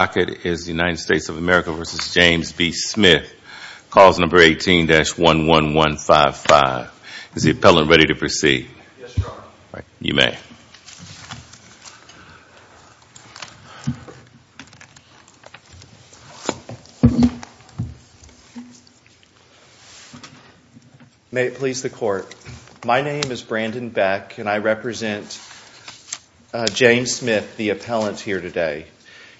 United States of America v. James B. Smith, Clause No. 18-11155. Is the appellant ready to proceed? Yes, Your Honor. You may. May it please the Court. My name is Brandon Beck and I represent James Smith, the appellant, here today.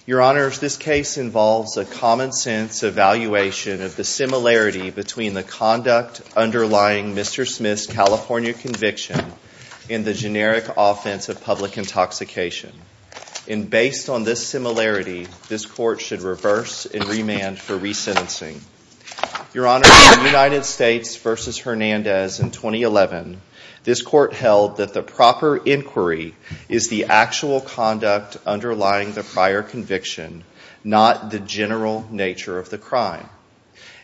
Your Honor, this case involves a common sense evaluation of the similarity between the conduct underlying Mr. Smith's California conviction and the generic offense of public intoxication. And based on this similarity, this Court should reverse and remand for resentencing. Your Honor, in United the proper inquiry is the actual conduct underlying the prior conviction, not the general nature of the crime.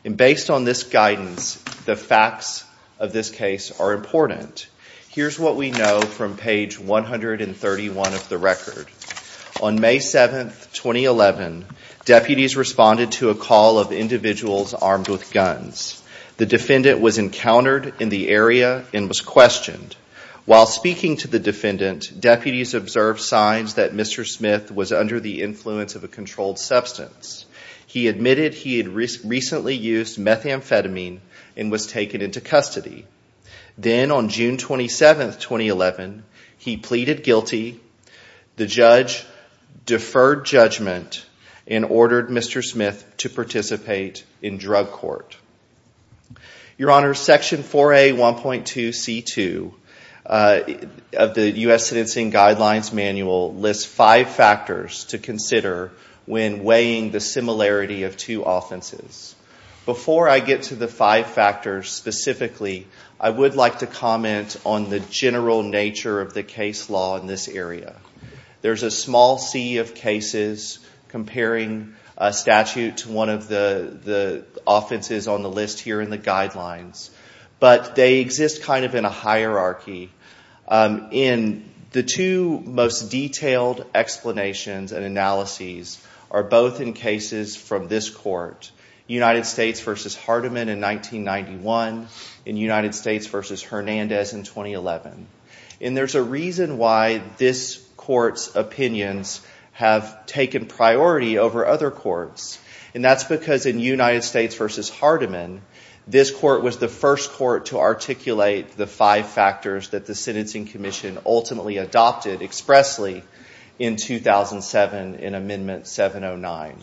And based on this guidance, the facts of this case are important. Here's what we know from page 131 of the record. On May 7, 2011, deputies responded to a call of individuals armed with guns. The defendant was encountered in the area and was questioned. While speaking to the defendant, deputies observed signs that Mr. Smith was under the influence of a controlled substance. He admitted he had recently used methamphetamine and was taken into custody. Then on June 27, 2011, he pleaded guilty. The judge deferred judgment and ordered Mr. Smith to participate in drug court. Your Honor, Section 4A.1.2.C.2 of the U.S. Sentencing Guidelines Manual lists five factors to consider when weighing the similarity of two offenses. Before I get to the five factors specifically, I would like to comment on the general nature of the case law in this area. There's a small sea of cases comparing a statute to one of the offenses on the list here in the guidelines, but they exist kind of in a hierarchy. The two most detailed explanations and analyses are both in cases from this court, United States v. Hardeman in 1991 and United States v. Hernandez in 2011. There's a reason why this court's opinions have taken priority over other courts. That's because in United States v. Hardeman, this court was the first court to articulate the five factors that the Sentencing Commission ultimately adopted expressly in 2007 in Amendment 709.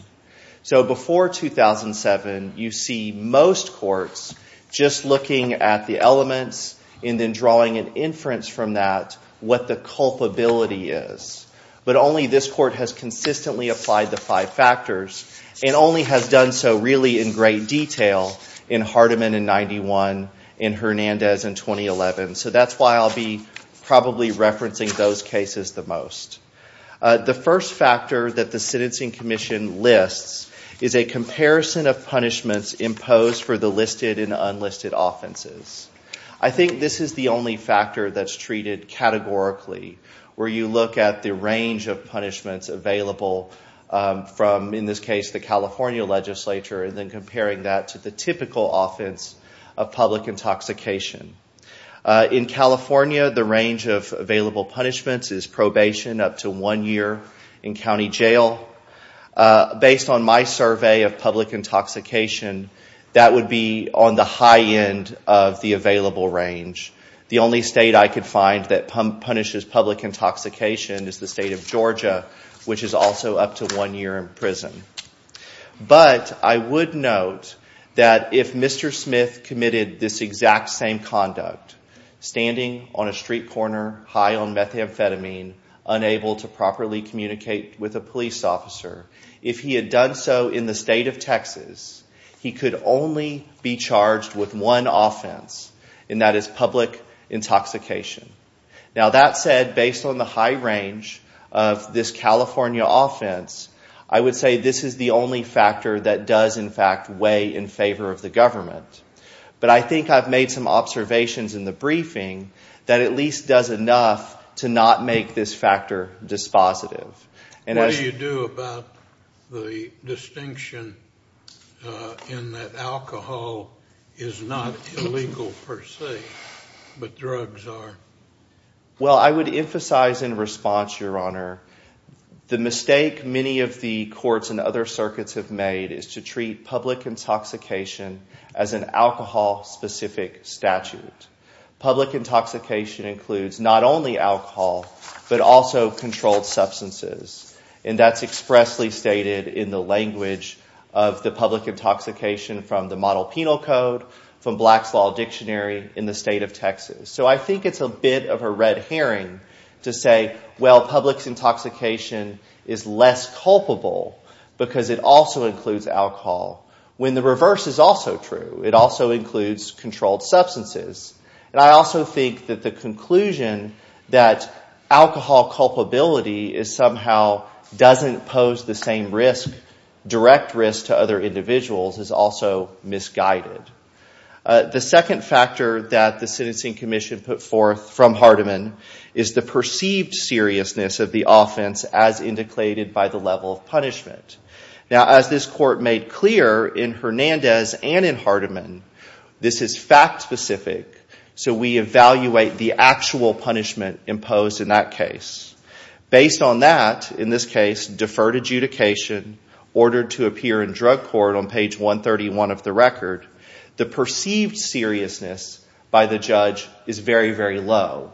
Before 2007, you see most courts just looking at the elements and then drawing an inference from that what the culpability is. But only this court has consistently applied the five factors and only has done so really in great detail in Hardeman in 1991 and Hernandez in 2011. So that's why I'll be probably referencing those cases the most. The first factor that the Sentencing Commission lists is a comparison of punishments imposed for the listed and unlisted offenses. I think this is the only factor that's treated categorically where you look at the range of punishments available from, in this case, the California legislature and then comparing that to the typical offense of public intoxication. In up to one year in county jail, based on my survey of public intoxication, that would be on the high end of the available range. The only state I could find that punishes public intoxication is the state of Georgia, which is also up to one year in prison. But I would note that if Mr. Smith committed this exact same conduct, standing on a street corner high on methamphetamine, unable to properly communicate with a police officer, if he had done so in the state of Texas, he could only be charged with one offense, and that is public intoxication. Now that said, based on the high range of this California offense, I would say this is the only factor that does, in fact, weigh in favor of the government. But I think I've made some observations in the briefing that at least does enough to not make this factor dispositive. What do you do about the distinction in that alcohol is not illegal per se, but drugs are? Well I would emphasize in response, Your Honor, the mistake many of the courts and other circuits have made is to treat public intoxication as an alcohol-specific statute. Public intoxication includes not only alcohol, but also controlled substances, and that's expressly stated in the language of the public intoxication from the Model Penal Code, from Black's Law Dictionary in the state of Texas. So I think it's a bit of a red herring to say, well, public intoxication is less culpable because it also includes alcohol, when the reverse is also true. It also includes controlled substances. And I also think that the conclusion that alcohol culpability somehow doesn't pose the same direct risk to other individuals is also misguided. The second factor that the Sentencing Commission put forth from Hardiman is the perceived seriousness of the offense as indicated by the level of punishment. Now as this Court made clear in Hernandez and in Hardiman, this is fact-specific, so we evaluate the actual punishment imposed in that case. Based on that, in this case, deferred adjudication, ordered to appear in drug court on page 131 of the record, the perceived seriousness by the judge is very, very low.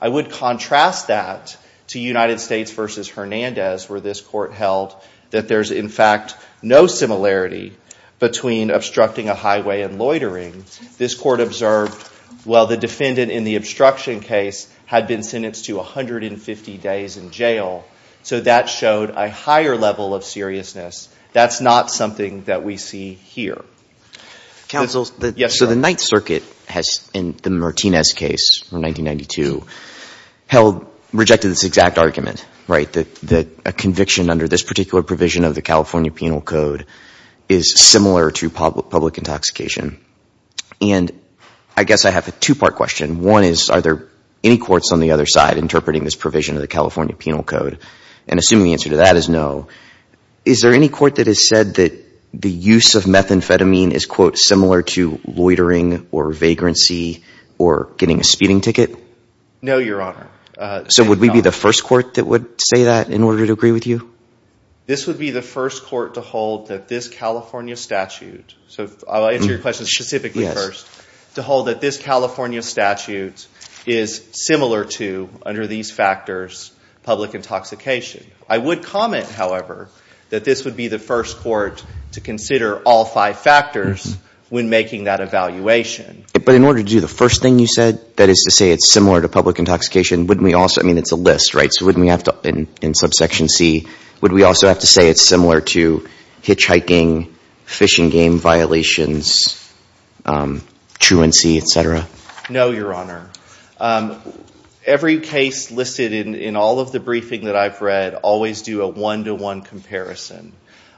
I would contrast that to United States v. Hernandez, where this Court held that there's, in fact, no similarity between obstructing a highway and loitering. This Court observed, well, the defendant in the obstruction case had been sentenced to 150 days in jail, so that showed a higher level of seriousness. That's not something that we see here. Counsel, so the Ninth Circuit has, in the Martinez case from 1992, held, rejected this exact argument, right, that a conviction under this particular provision of the California Penal Code is similar to public intoxication. And I guess I have a two-part question. One is, are there any courts on the other side interpreting this provision of the California Penal Code? And assuming the answer to that is no, is there any court that has said that the use of methamphetamine is, quote, similar to loitering or vagrancy or getting a speeding ticket? No, Your Honor. So would we be the first court that would say that in order to agree with you? This would be the first court to hold that this California statute, so I'll answer your question specifically first, to hold that this California statute is similar to, under these factors, public intoxication. I would comment, however, that this would be the first court to consider all five factors when making that evaluation. But in order to do the first thing you said, that is to say it's similar to public intoxication, wouldn't we also, I mean, it's a list, right, so wouldn't we have to, in subsection C, would we also have to say it's similar to hitchhiking, fishing game violations, truancy, et cetera? No, Your Honor. Every case listed in all of the briefing that I've read always do a one-to-one comparison.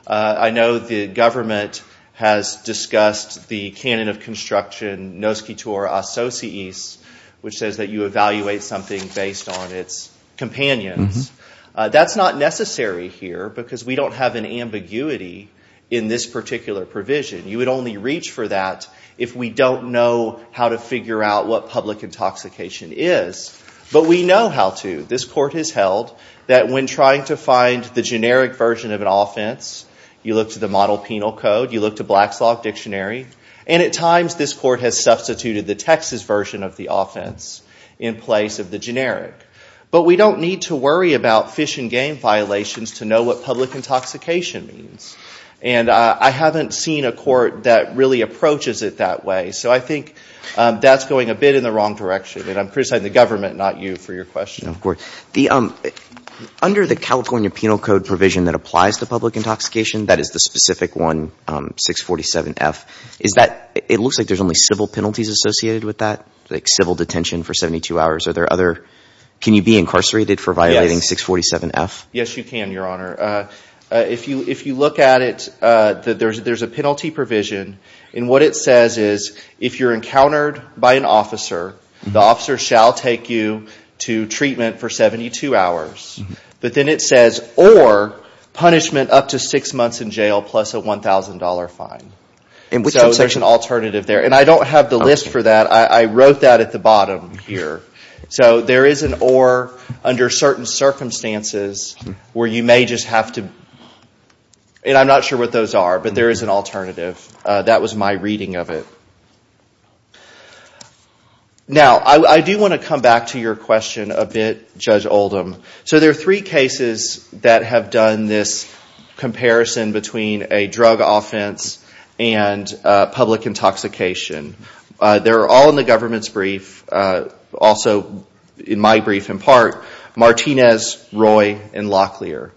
I know the government has discussed the canon of construction, nos qui tour associis, which says that you evaluate something based on its companions. That's not necessary here because we don't have an ambiguity in this particular provision. You would only reach for that if we don't know how to figure out what public intoxication is. But we know how to. This court has held that when trying to find the generic version of an offense, you look to the model penal code, you look to Black's Law Dictionary, and at times this court has substituted the Texas version of the offense in place of the generic. But we don't need to worry about fish and game violations to know what public intoxication means. And I haven't seen a court that really approaches it that way. So I think that's going a bit in the wrong direction, and I'm criticizing the government, not you, for your question. Under the California Penal Code provision that applies to public intoxication, that is the specific one, 647F, it looks like there's only civil penalties associated with that, like civil detention for 72 hours. Can you be incarcerated for violating 647F? Yes, you can, Your Honor. If you look at it, there's a penalty provision, and what it says is, if you're encountered by an officer, the officer shall take you to treatment for 72 hours. But then it says, or punishment up to six months in jail plus a $1,000 fine. So there's an alternative there. And I don't have the list for that. I wrote that at the bottom here. So there is an or under certain circumstances where you may just have to, and I'm not sure what those are, but there is an alternative. That was my reading of it. Now, I do want to come back to your question a bit, Judge Oldham. So there are three cases that have done this comparison between a drug offense and public intoxication. They're all in the government's brief, also in my brief in part, Martinez, Roy, and Locklear.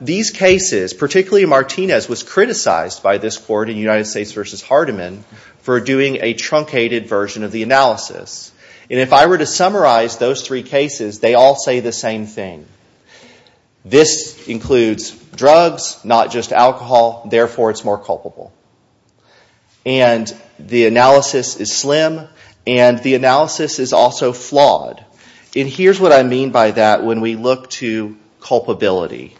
These cases, particularly Martinez, was criticized by this court in United States v. Hardiman for doing a truncated version of the analysis. And if I were to summarize those three cases, they all say the same thing. This includes drugs, not just alcohol, therefore it's more culpable. And the analysis is slim, and the here's what I mean by that when we look to culpability.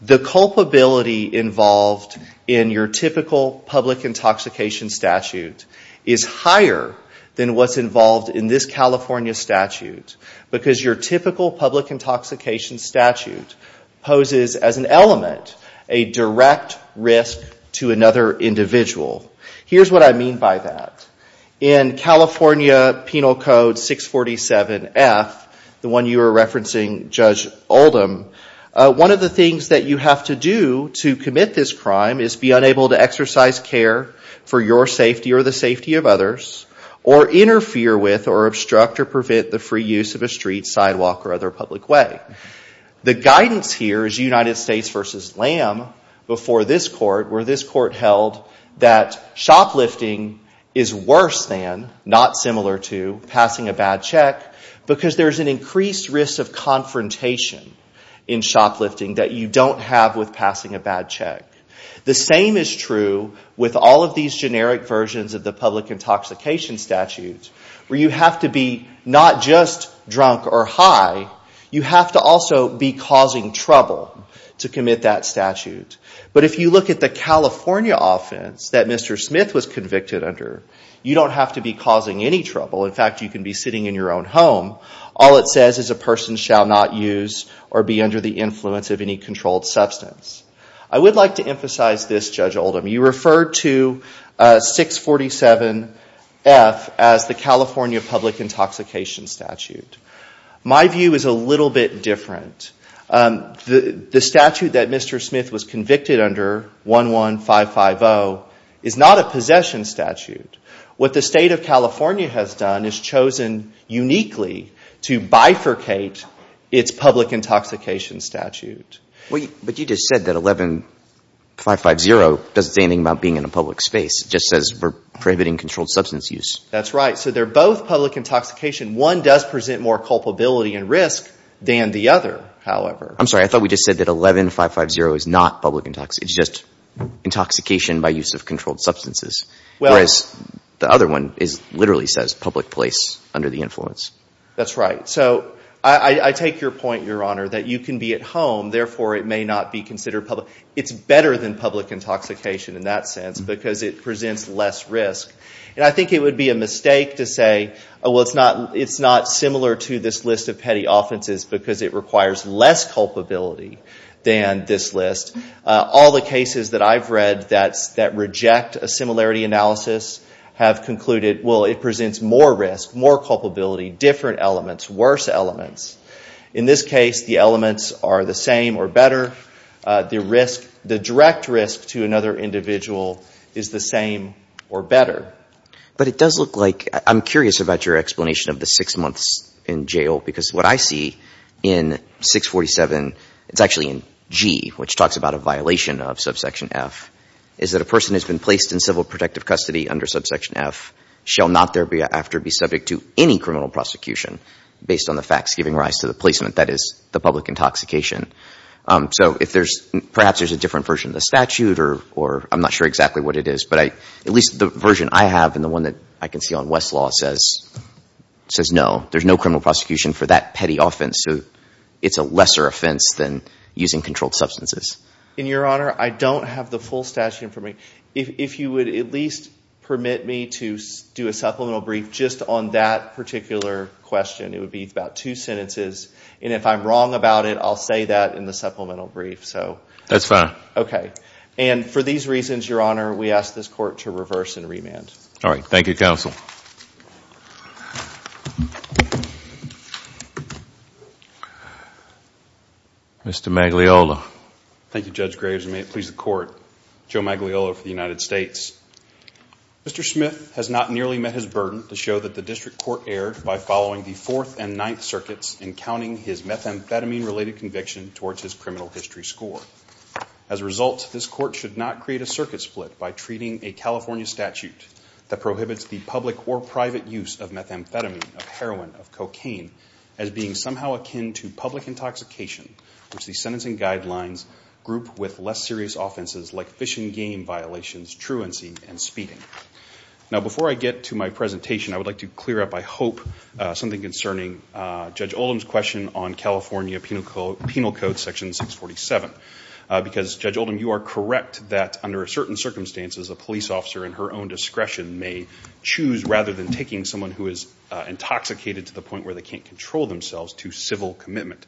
The culpability involved in your typical public intoxication statute is higher than what's involved in this California statute because your typical public intoxication statute poses as an element a direct risk to another individual. Here's what I mean by that. In California Penal Code 647F, the one you were referencing, Judge Oldham, one of the things that you have to do to commit this crime is be unable to exercise care for your safety or the safety of others, or interfere with or obstruct or prevent the free use of a street, sidewalk, or other public way. The guidance here is United States v. Lamb before this court where this court held that shoplifting is worse than, not similar to, passing a bad check because there's an increased risk of confrontation in shoplifting that you don't have with passing a bad check. The same is true with all of these generic versions of the public intoxication statute where you have to be not just drunk or high, you have to also be causing trouble to commit that statute. But if you look at the California offense that Mr. Smith was convicted under, you don't have to be causing any trouble. In fact, you can be sitting in your own home. All it says is a person shall not use or be under the influence of any controlled substance. I would like to emphasize this, Judge Oldham. You referred to 647F as the statute that Mr. Smith was convicted under, 11550, is not a possession statute. What the State of California has done is chosen uniquely to bifurcate its public intoxication statute. But you just said that 11550 doesn't say anything about being in a public space. It just says we're prohibiting controlled substance use. That's right. So they're both public intoxication. One does present more culpability and risk than the other, however. I'm sorry, I thought we just said that 11550 is not public intoxication. It's just intoxication by use of controlled substances, whereas the other one literally says public place under the influence. That's right. So I take your point, Your Honor, that you can be at home, therefore it may not be considered public. It's better than public intoxication in that sense because it presents less risk. And I think it would be a mistake to say, well, it's not similar to this list of petty offenses because it requires less culpability than this list. All the cases that I've read that reject a similarity analysis have concluded, well, it presents more risk, more culpability, different elements, worse elements. In this case, the elements are the same or better. The risk, the direct risk to another individual is the same or better. But it does look like, I'm curious about your explanation of the six months in jail because what I see in 647, it's actually in G, which talks about a violation of subsection F, is that a person has been placed in civil protective custody under subsection F shall not thereafter be subject to any criminal prosecution based on the facts giving rise to the placement that is the public intoxication. So if there's, perhaps there's a different version of the law that I have and the one that I can see on Westlaw says no, there's no criminal prosecution for that petty offense. So it's a lesser offense than using controlled substances. In your honor, I don't have the full statute in front of me. If you would at least permit me to do a supplemental brief just on that particular question, it would be about two sentences. And if I'm wrong about it, I'll say that in the supplemental brief. So. That's fine. And for these reasons, your honor, we ask this court to reverse and remand. All right. Thank you, counsel. Mr. Magliola. Thank you, Judge Graves, and may it please the court. Joe Magliola for the United States. Mr. Smith has not nearly met his burden to show that the district court erred by following the Fourth and Ninth Circuits in counting his methamphetamine-related conviction towards his criminal history score. As a result, this court should not create a circuit split by treating a California statute that prohibits the public or private use of methamphetamine, of heroin, of cocaine, as being somehow akin to public intoxication, which the sentencing guidelines group with less serious offenses like fish and game violations, truancy, and speeding. Now, before I get to my presentation, I would like to clear up, I hope, something concerning Judge Oldham's question on California Penal Code Section 647. Because, Judge Oldham, you are correct that under certain circumstances, a police officer in her own discretion may choose, rather than taking someone who is intoxicated to the point where they can't control themselves, to civil commitment.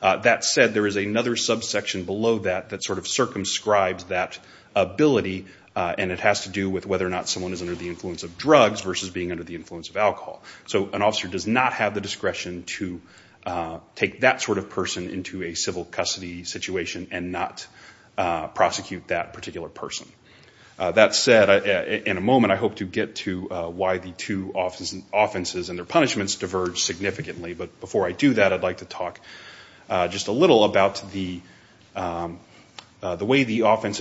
That said, there is another subsection below that that sort of circumscribes that ability, and it has to do with whether or not someone is under the influence of drugs versus being under the influence of alcohol. So, an officer does not have the discretion to take that sort of person into a civil custody situation and not prosecute that particular person. That said, in a moment, I hope to get to why the two offenses and their punishments diverge significantly, but before I do that, I'd like to talk just a little about the way the ones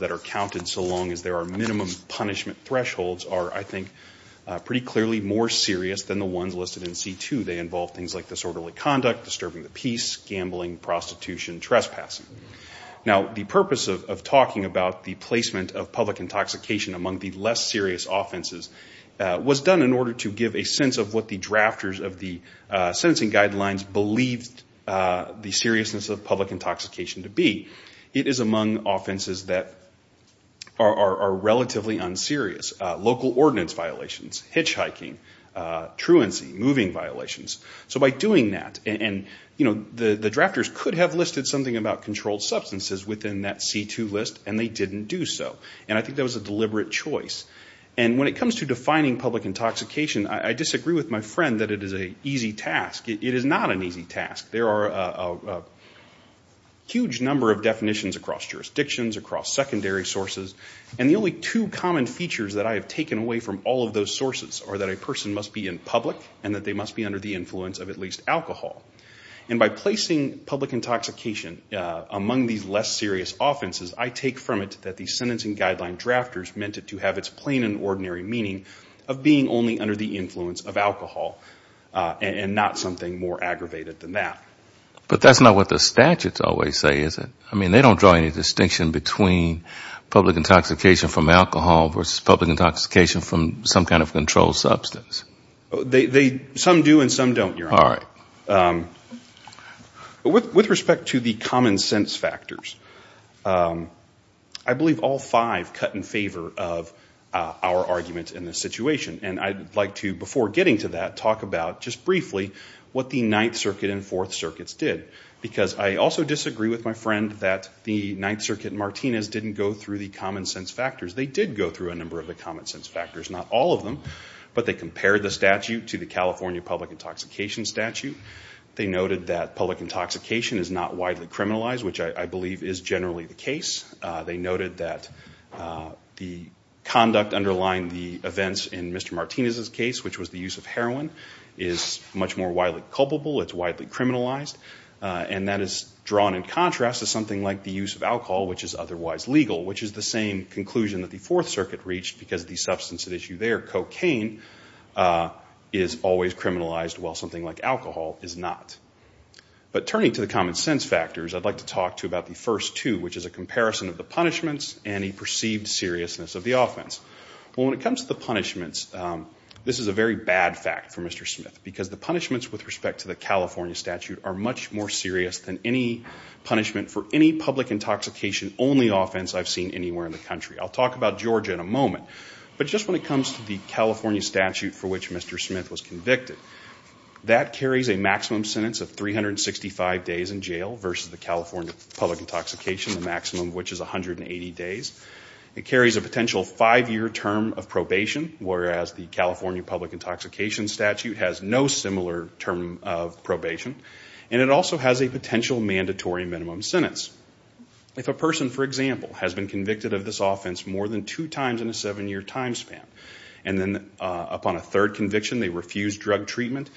that are counted, so long as there are minimum punishment thresholds, are, I think, pretty clearly more serious than the ones listed in C2. They involve things like disorderly conduct, disturbing the peace, gambling, prostitution, trespassing. Now, the purpose of talking about the placement of public intoxication among the less serious offenses was done in order to give a sense of what the drafters of the sentencing guidelines believed the seriousness of public intoxication to be. It is among offenses that are relatively unserious. Local ordinance violations, hitchhiking, truancy, moving violations. So by doing that, and the drafters could have listed something about controlled substances within that C2 list, and they didn't do so. And I think that was a deliberate choice. And when it comes to defining public intoxication, I disagree with my friend that it is an easy task. It is not an easy task. There are a huge number of definitions across jurisdictions, across secondary sources. And the only two common features that I have taken away from all of those sources are that a person must be in public and that they must be under the influence of at least alcohol. And by placing public intoxication among these less serious offenses, I take from it that the sentencing guideline drafters meant it to have its plain and ordinary meaning of being only under the influence of something more aggravated than that. But that's not what the statutes always say, is it? I mean, they don't draw any distinction between public intoxication from alcohol versus public intoxication from some kind of controlled substance. Some do and some don't, Your Honor. All right. With respect to the common sense factors, I believe all five cut in favor of our argument in this situation. And I'd like to, before getting to that, talk about just briefly what the Ninth Circuit and Fourth Circuits did. Because I also disagree with my friend that the Ninth Circuit and Martinez didn't go through the common sense factors. They did go through a number of the common sense factors, not all of them. But they compared the statute to the California public intoxication statute. They noted that public intoxication is not widely criminalized, which I believe is generally the case. They noted that the conduct underlying the events in Mr. Martinez's case, which was the use of heroin, is much more widely culpable. It's widely criminalized. And that is drawn in contrast to something like the use of alcohol, which is otherwise legal, which is the same conclusion that the Fourth Circuit reached because the substance at issue there, cocaine, is always criminalized while something like alcohol is not. But turning to the common sense factors, I'd like to talk to you about the first two, which is a comparison of the punishments and a perceived seriousness of the offense. When it comes to the punishments, this is a very bad fact for Mr. Smith, because the punishments with respect to the California statute are much more serious than any punishment for any public intoxication-only offense I've seen anywhere in the country. I'll talk about Georgia in a moment. But just when it comes to the California statute for which Mr. Smith was convicted, that carries a maximum sentence of 365 days in jail versus the California public intoxication, the maximum of which is 180 days. It carries a potential five-year term of probation, whereas the California public intoxication statute has no similar term of probation. And it also has a potential mandatory minimum sentence. If a person, for example, has been convicted of this offense more than two times in a seven-year time span, and then upon a third conviction they refuse drug treatment,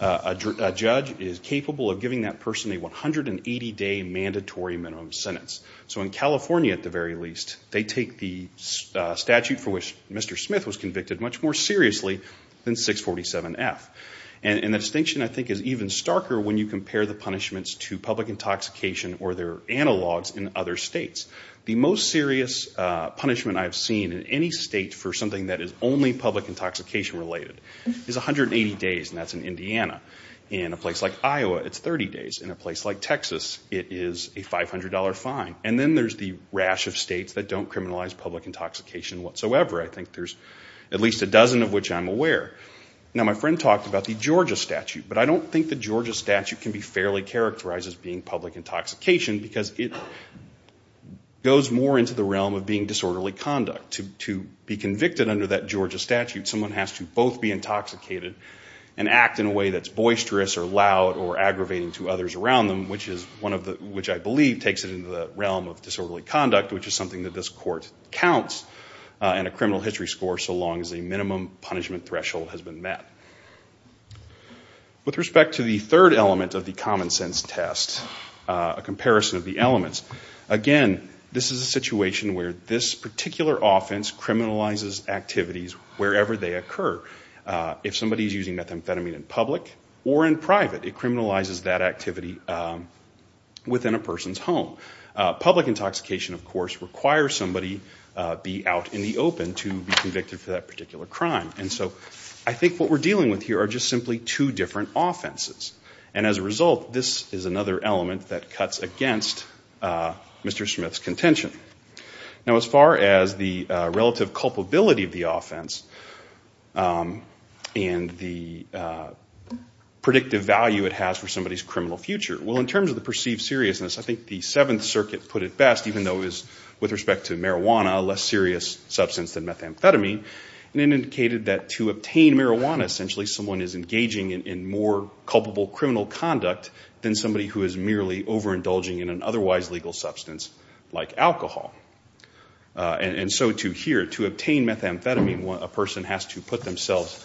a judge is capable of giving that person a 180-day mandatory minimum sentence. So in California, at the very least, they take the statute for which Mr. Smith was convicted much more seriously than 647F. And the distinction, I think, is even starker when you compare the punishments to public intoxication or their analogs in other states. The most serious punishment I've seen in any state for something that is only public intoxication related is 180 days, and that's in Indiana. In a place like Iowa, it's 30 days. In a place like Texas, it is a $500 fine. And then there's the rash of states that don't criminalize public intoxication whatsoever. I think there's at least a dozen of which I'm aware. Now, my friend talked about the Georgia statute, but I don't think the Georgia statute can be fairly characterized as being public intoxication because it goes more into the realm of being disorderly conduct. To be convicted under that Georgia statute, someone has to both be intoxicated and act in a way that's boisterous or loud or aggravating to others around them, which I believe takes it into the realm of disorderly conduct, which is something that this court counts in a criminal history score so long as a minimum punishment threshold has been met. With respect to the third element of the common sense test, a comparison of the elements, again, this is a situation where this particular offense criminalizes activities wherever they occur. If somebody is using methamphetamine in public or in private, it criminalizes that activity within a person's home. Public intoxication, of course, requires somebody to be out in the open to be convicted for that particular crime. And so I think what we're dealing with here are just simply two different offenses. And as a result, this is another element that cuts against Mr. Smith's contention. Now, as far as the relative culpability of the offense and the predictive value it has for somebody's criminal future, well, in terms of the perceived seriousness, I think the Seventh Circuit put it best, even though it was, with respect to marijuana, a less serious substance than methamphetamine, and it indicated that to obtain marijuana, essentially, someone is engaging in more culpable criminal conduct than somebody who is merely overindulging in an otherwise legal substance like alcohol. And so here, to obtain methamphetamine, a person has to put themselves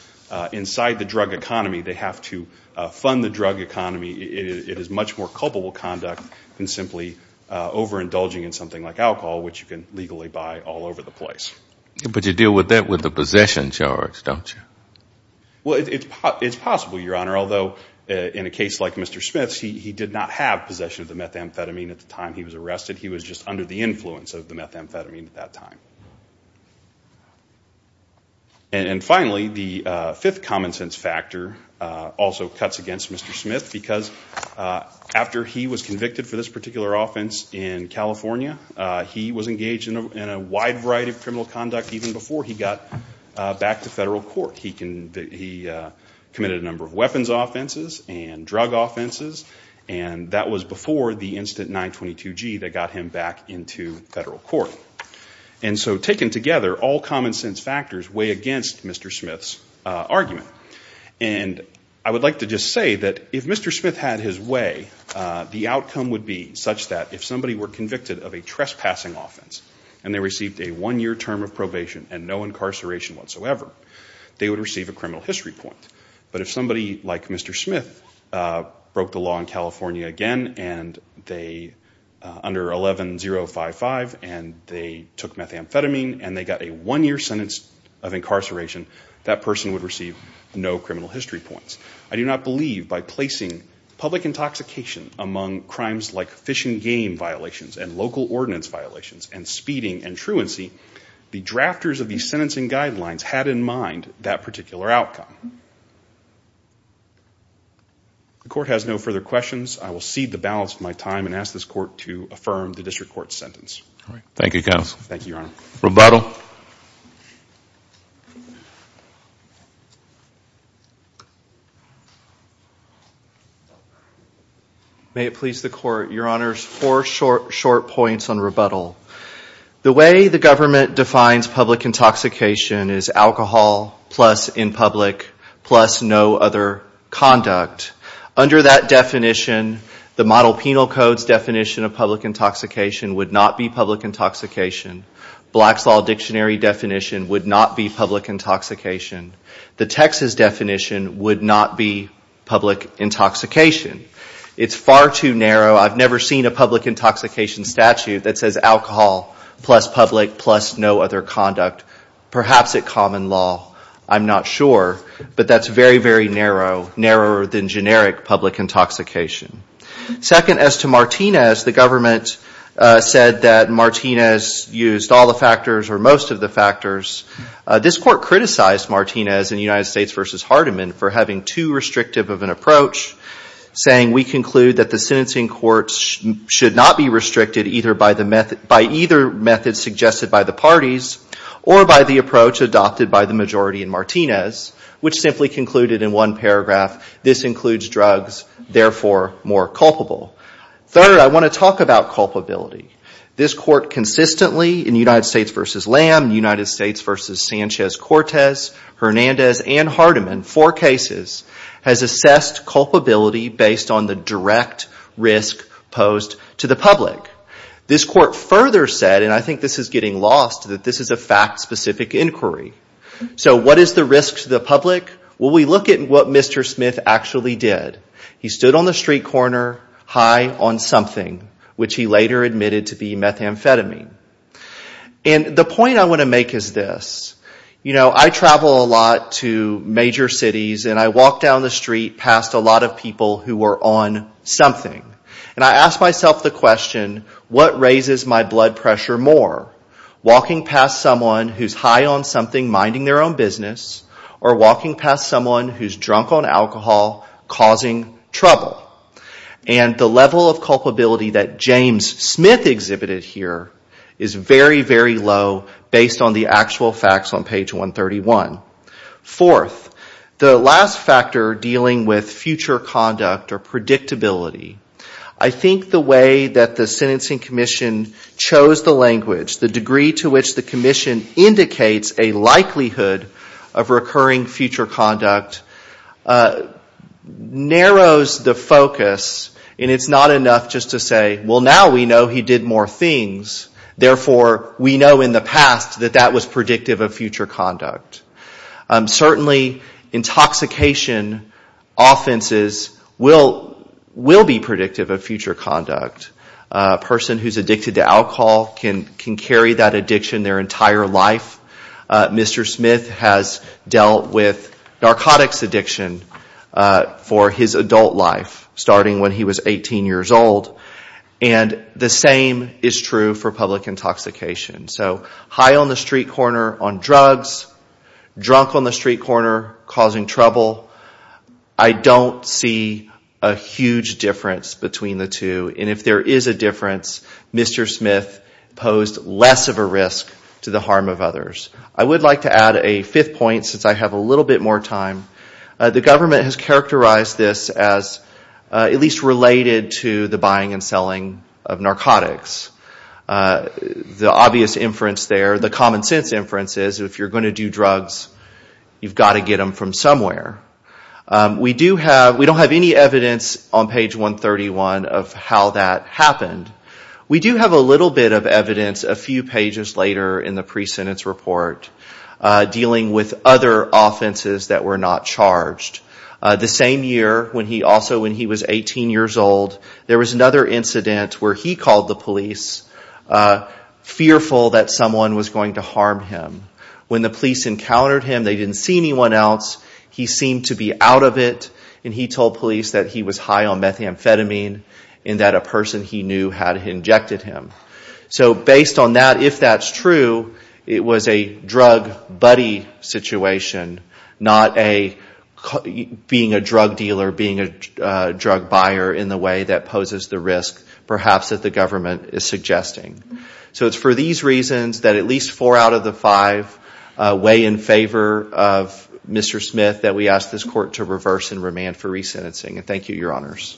inside the drug economy. They have to fund the drug economy. It is much more culpable conduct than simply overindulging in something like alcohol, which you can legally buy all over the place. But you deal with that with a possession charge, don't you? Well, it's possible, Your Honor, although in a case like Mr. Smith's, he did not have possession of the methamphetamine at the time he was arrested. He was just under the influence of the methamphetamine at that time. And finally, the fifth common sense factor also cuts against Mr. Smith because after he was convicted for this particular offense in California, he was engaged in a wide variety of criminal conduct even before he got back to federal court. He committed a number of weapons offenses and drug offenses, and that was before the incident 922G that got him back into federal court. And so taken together, all common sense factors weigh against Mr. Smith's argument. And I would like to just say that if Mr. Smith had his way, the outcome would be such that if somebody were convicted of a trespassing offense and they received a one-year term of probation and no incarceration whatsoever, they would receive a criminal history point. But if somebody like Mr. Smith broke the law in California again under 11-055 and they took methamphetamine and they got a one-year sentence of incarceration, that person would receive no criminal history points. I do not believe by placing public intoxication among crimes like fish and game violations and local ordinance violations and speeding and truancy, the drafters of these sentencing guidelines had in mind that particular outcome. The court has no further questions. I will cede the balance of my time and ask this court to affirm the district court's sentence. Thank you, counsel. Thank you, Your Honor. Rebuttal. May it please the court. Your Honor, four short points on rebuttal. The way the government defines public intoxication is alcohol plus in public plus no other conduct. Under that definition, the model penal code's definition of public intoxication would not be public intoxication. Black's Law dictionary definition would not be public intoxication. The Texas definition would not be public intoxication. It's far too narrow. I've never seen a public intoxication statute that says alcohol plus public plus no other conduct, perhaps at common law. I'm not sure. But that's very, very narrow, narrower than generic public intoxication. Second, as to Martinez, the government said that Martinez used all the factors or most of the factors. This court criticized Martinez in United States v. Hardeman for having too restrictive of an approach, saying, we conclude that the sentencing courts should not be restricted either by the method, by either method suggested by the parties or by the approach adopted by the majority in Martinez, which simply concluded in one paragraph, this includes drugs, therefore more culpable. Third, I want to talk about culpability. This court consistently in United States v. Lamb, United States v. Sanchez-Cortez, Hernandez, and Hardeman, four cases, has assessed culpability based on the direct risk posed to the public. This court further said, and I think this is getting lost, that this is a fact-specific inquiry. So what is the risk to the public? Well, we look at what Mr. Smith actually did. He stood on the street corner high on something, which he later admitted to be methamphetamine. And the point I want to make is this. You know, I travel a lot to major cities, and I walk down the street past a lot of people who are on something. And I ask myself the question, what raises my blood pressure more, walking past someone who's high on something, minding their own business, or walking past someone who's drunk on alcohol, causing trouble? And the level of culpability that James Smith exhibited here is very, very low based on the actual facts on page 131. Fourth, the last factor dealing with future conduct or predictability. I think the way that the sentencing commission chose the language, the degree to which the commission indicates a likelihood of recurring future conduct, narrows the focus, and it's not enough just to say, well, now we know he did more things. Therefore, we know in the past that that was predictive of future conduct. Certainly, intoxication offenses will be predictive of future conduct. A person who's addicted to alcohol can carry that addiction their entire life. Mr. Smith has dealt with narcotics addiction for his adult life, starting when he was 18 years old. And the same is true for public intoxication. So high on the street corner on drugs, drunk on the street corner causing trouble, I don't see a huge difference between the two. And if there is a difference, Mr. Smith posed less of a risk to the harm of others. I would like to add a fifth point since I have a little bit more time. The government has characterized this as at least related to the buying and selling of narcotics. The obvious inference there, the common sense inference is if you're going to do drugs, you've got to get them from somewhere. We don't have any evidence on page 131 of how that happened. We do have a little bit of evidence a few pages later in the pre-sentence report, dealing with other offenses that were not charged. The same year, also when he was 18 years old, there was another incident where he called the police fearful that someone was going to harm him. When the police encountered him, they didn't see anyone else. He seemed to be out of it, and he told police that he was high on methamphetamine and that a person he knew had injected him. So based on that, if that's true, it was a drug buddy situation, not being a drug dealer, being a drug buyer in the way that poses the risk, perhaps that the government is suggesting. So it's for these reasons that at least four out of the five weigh in favor of Mr. Smith that we ask this court to reverse and remand for resentencing. Thank you, Your Honors.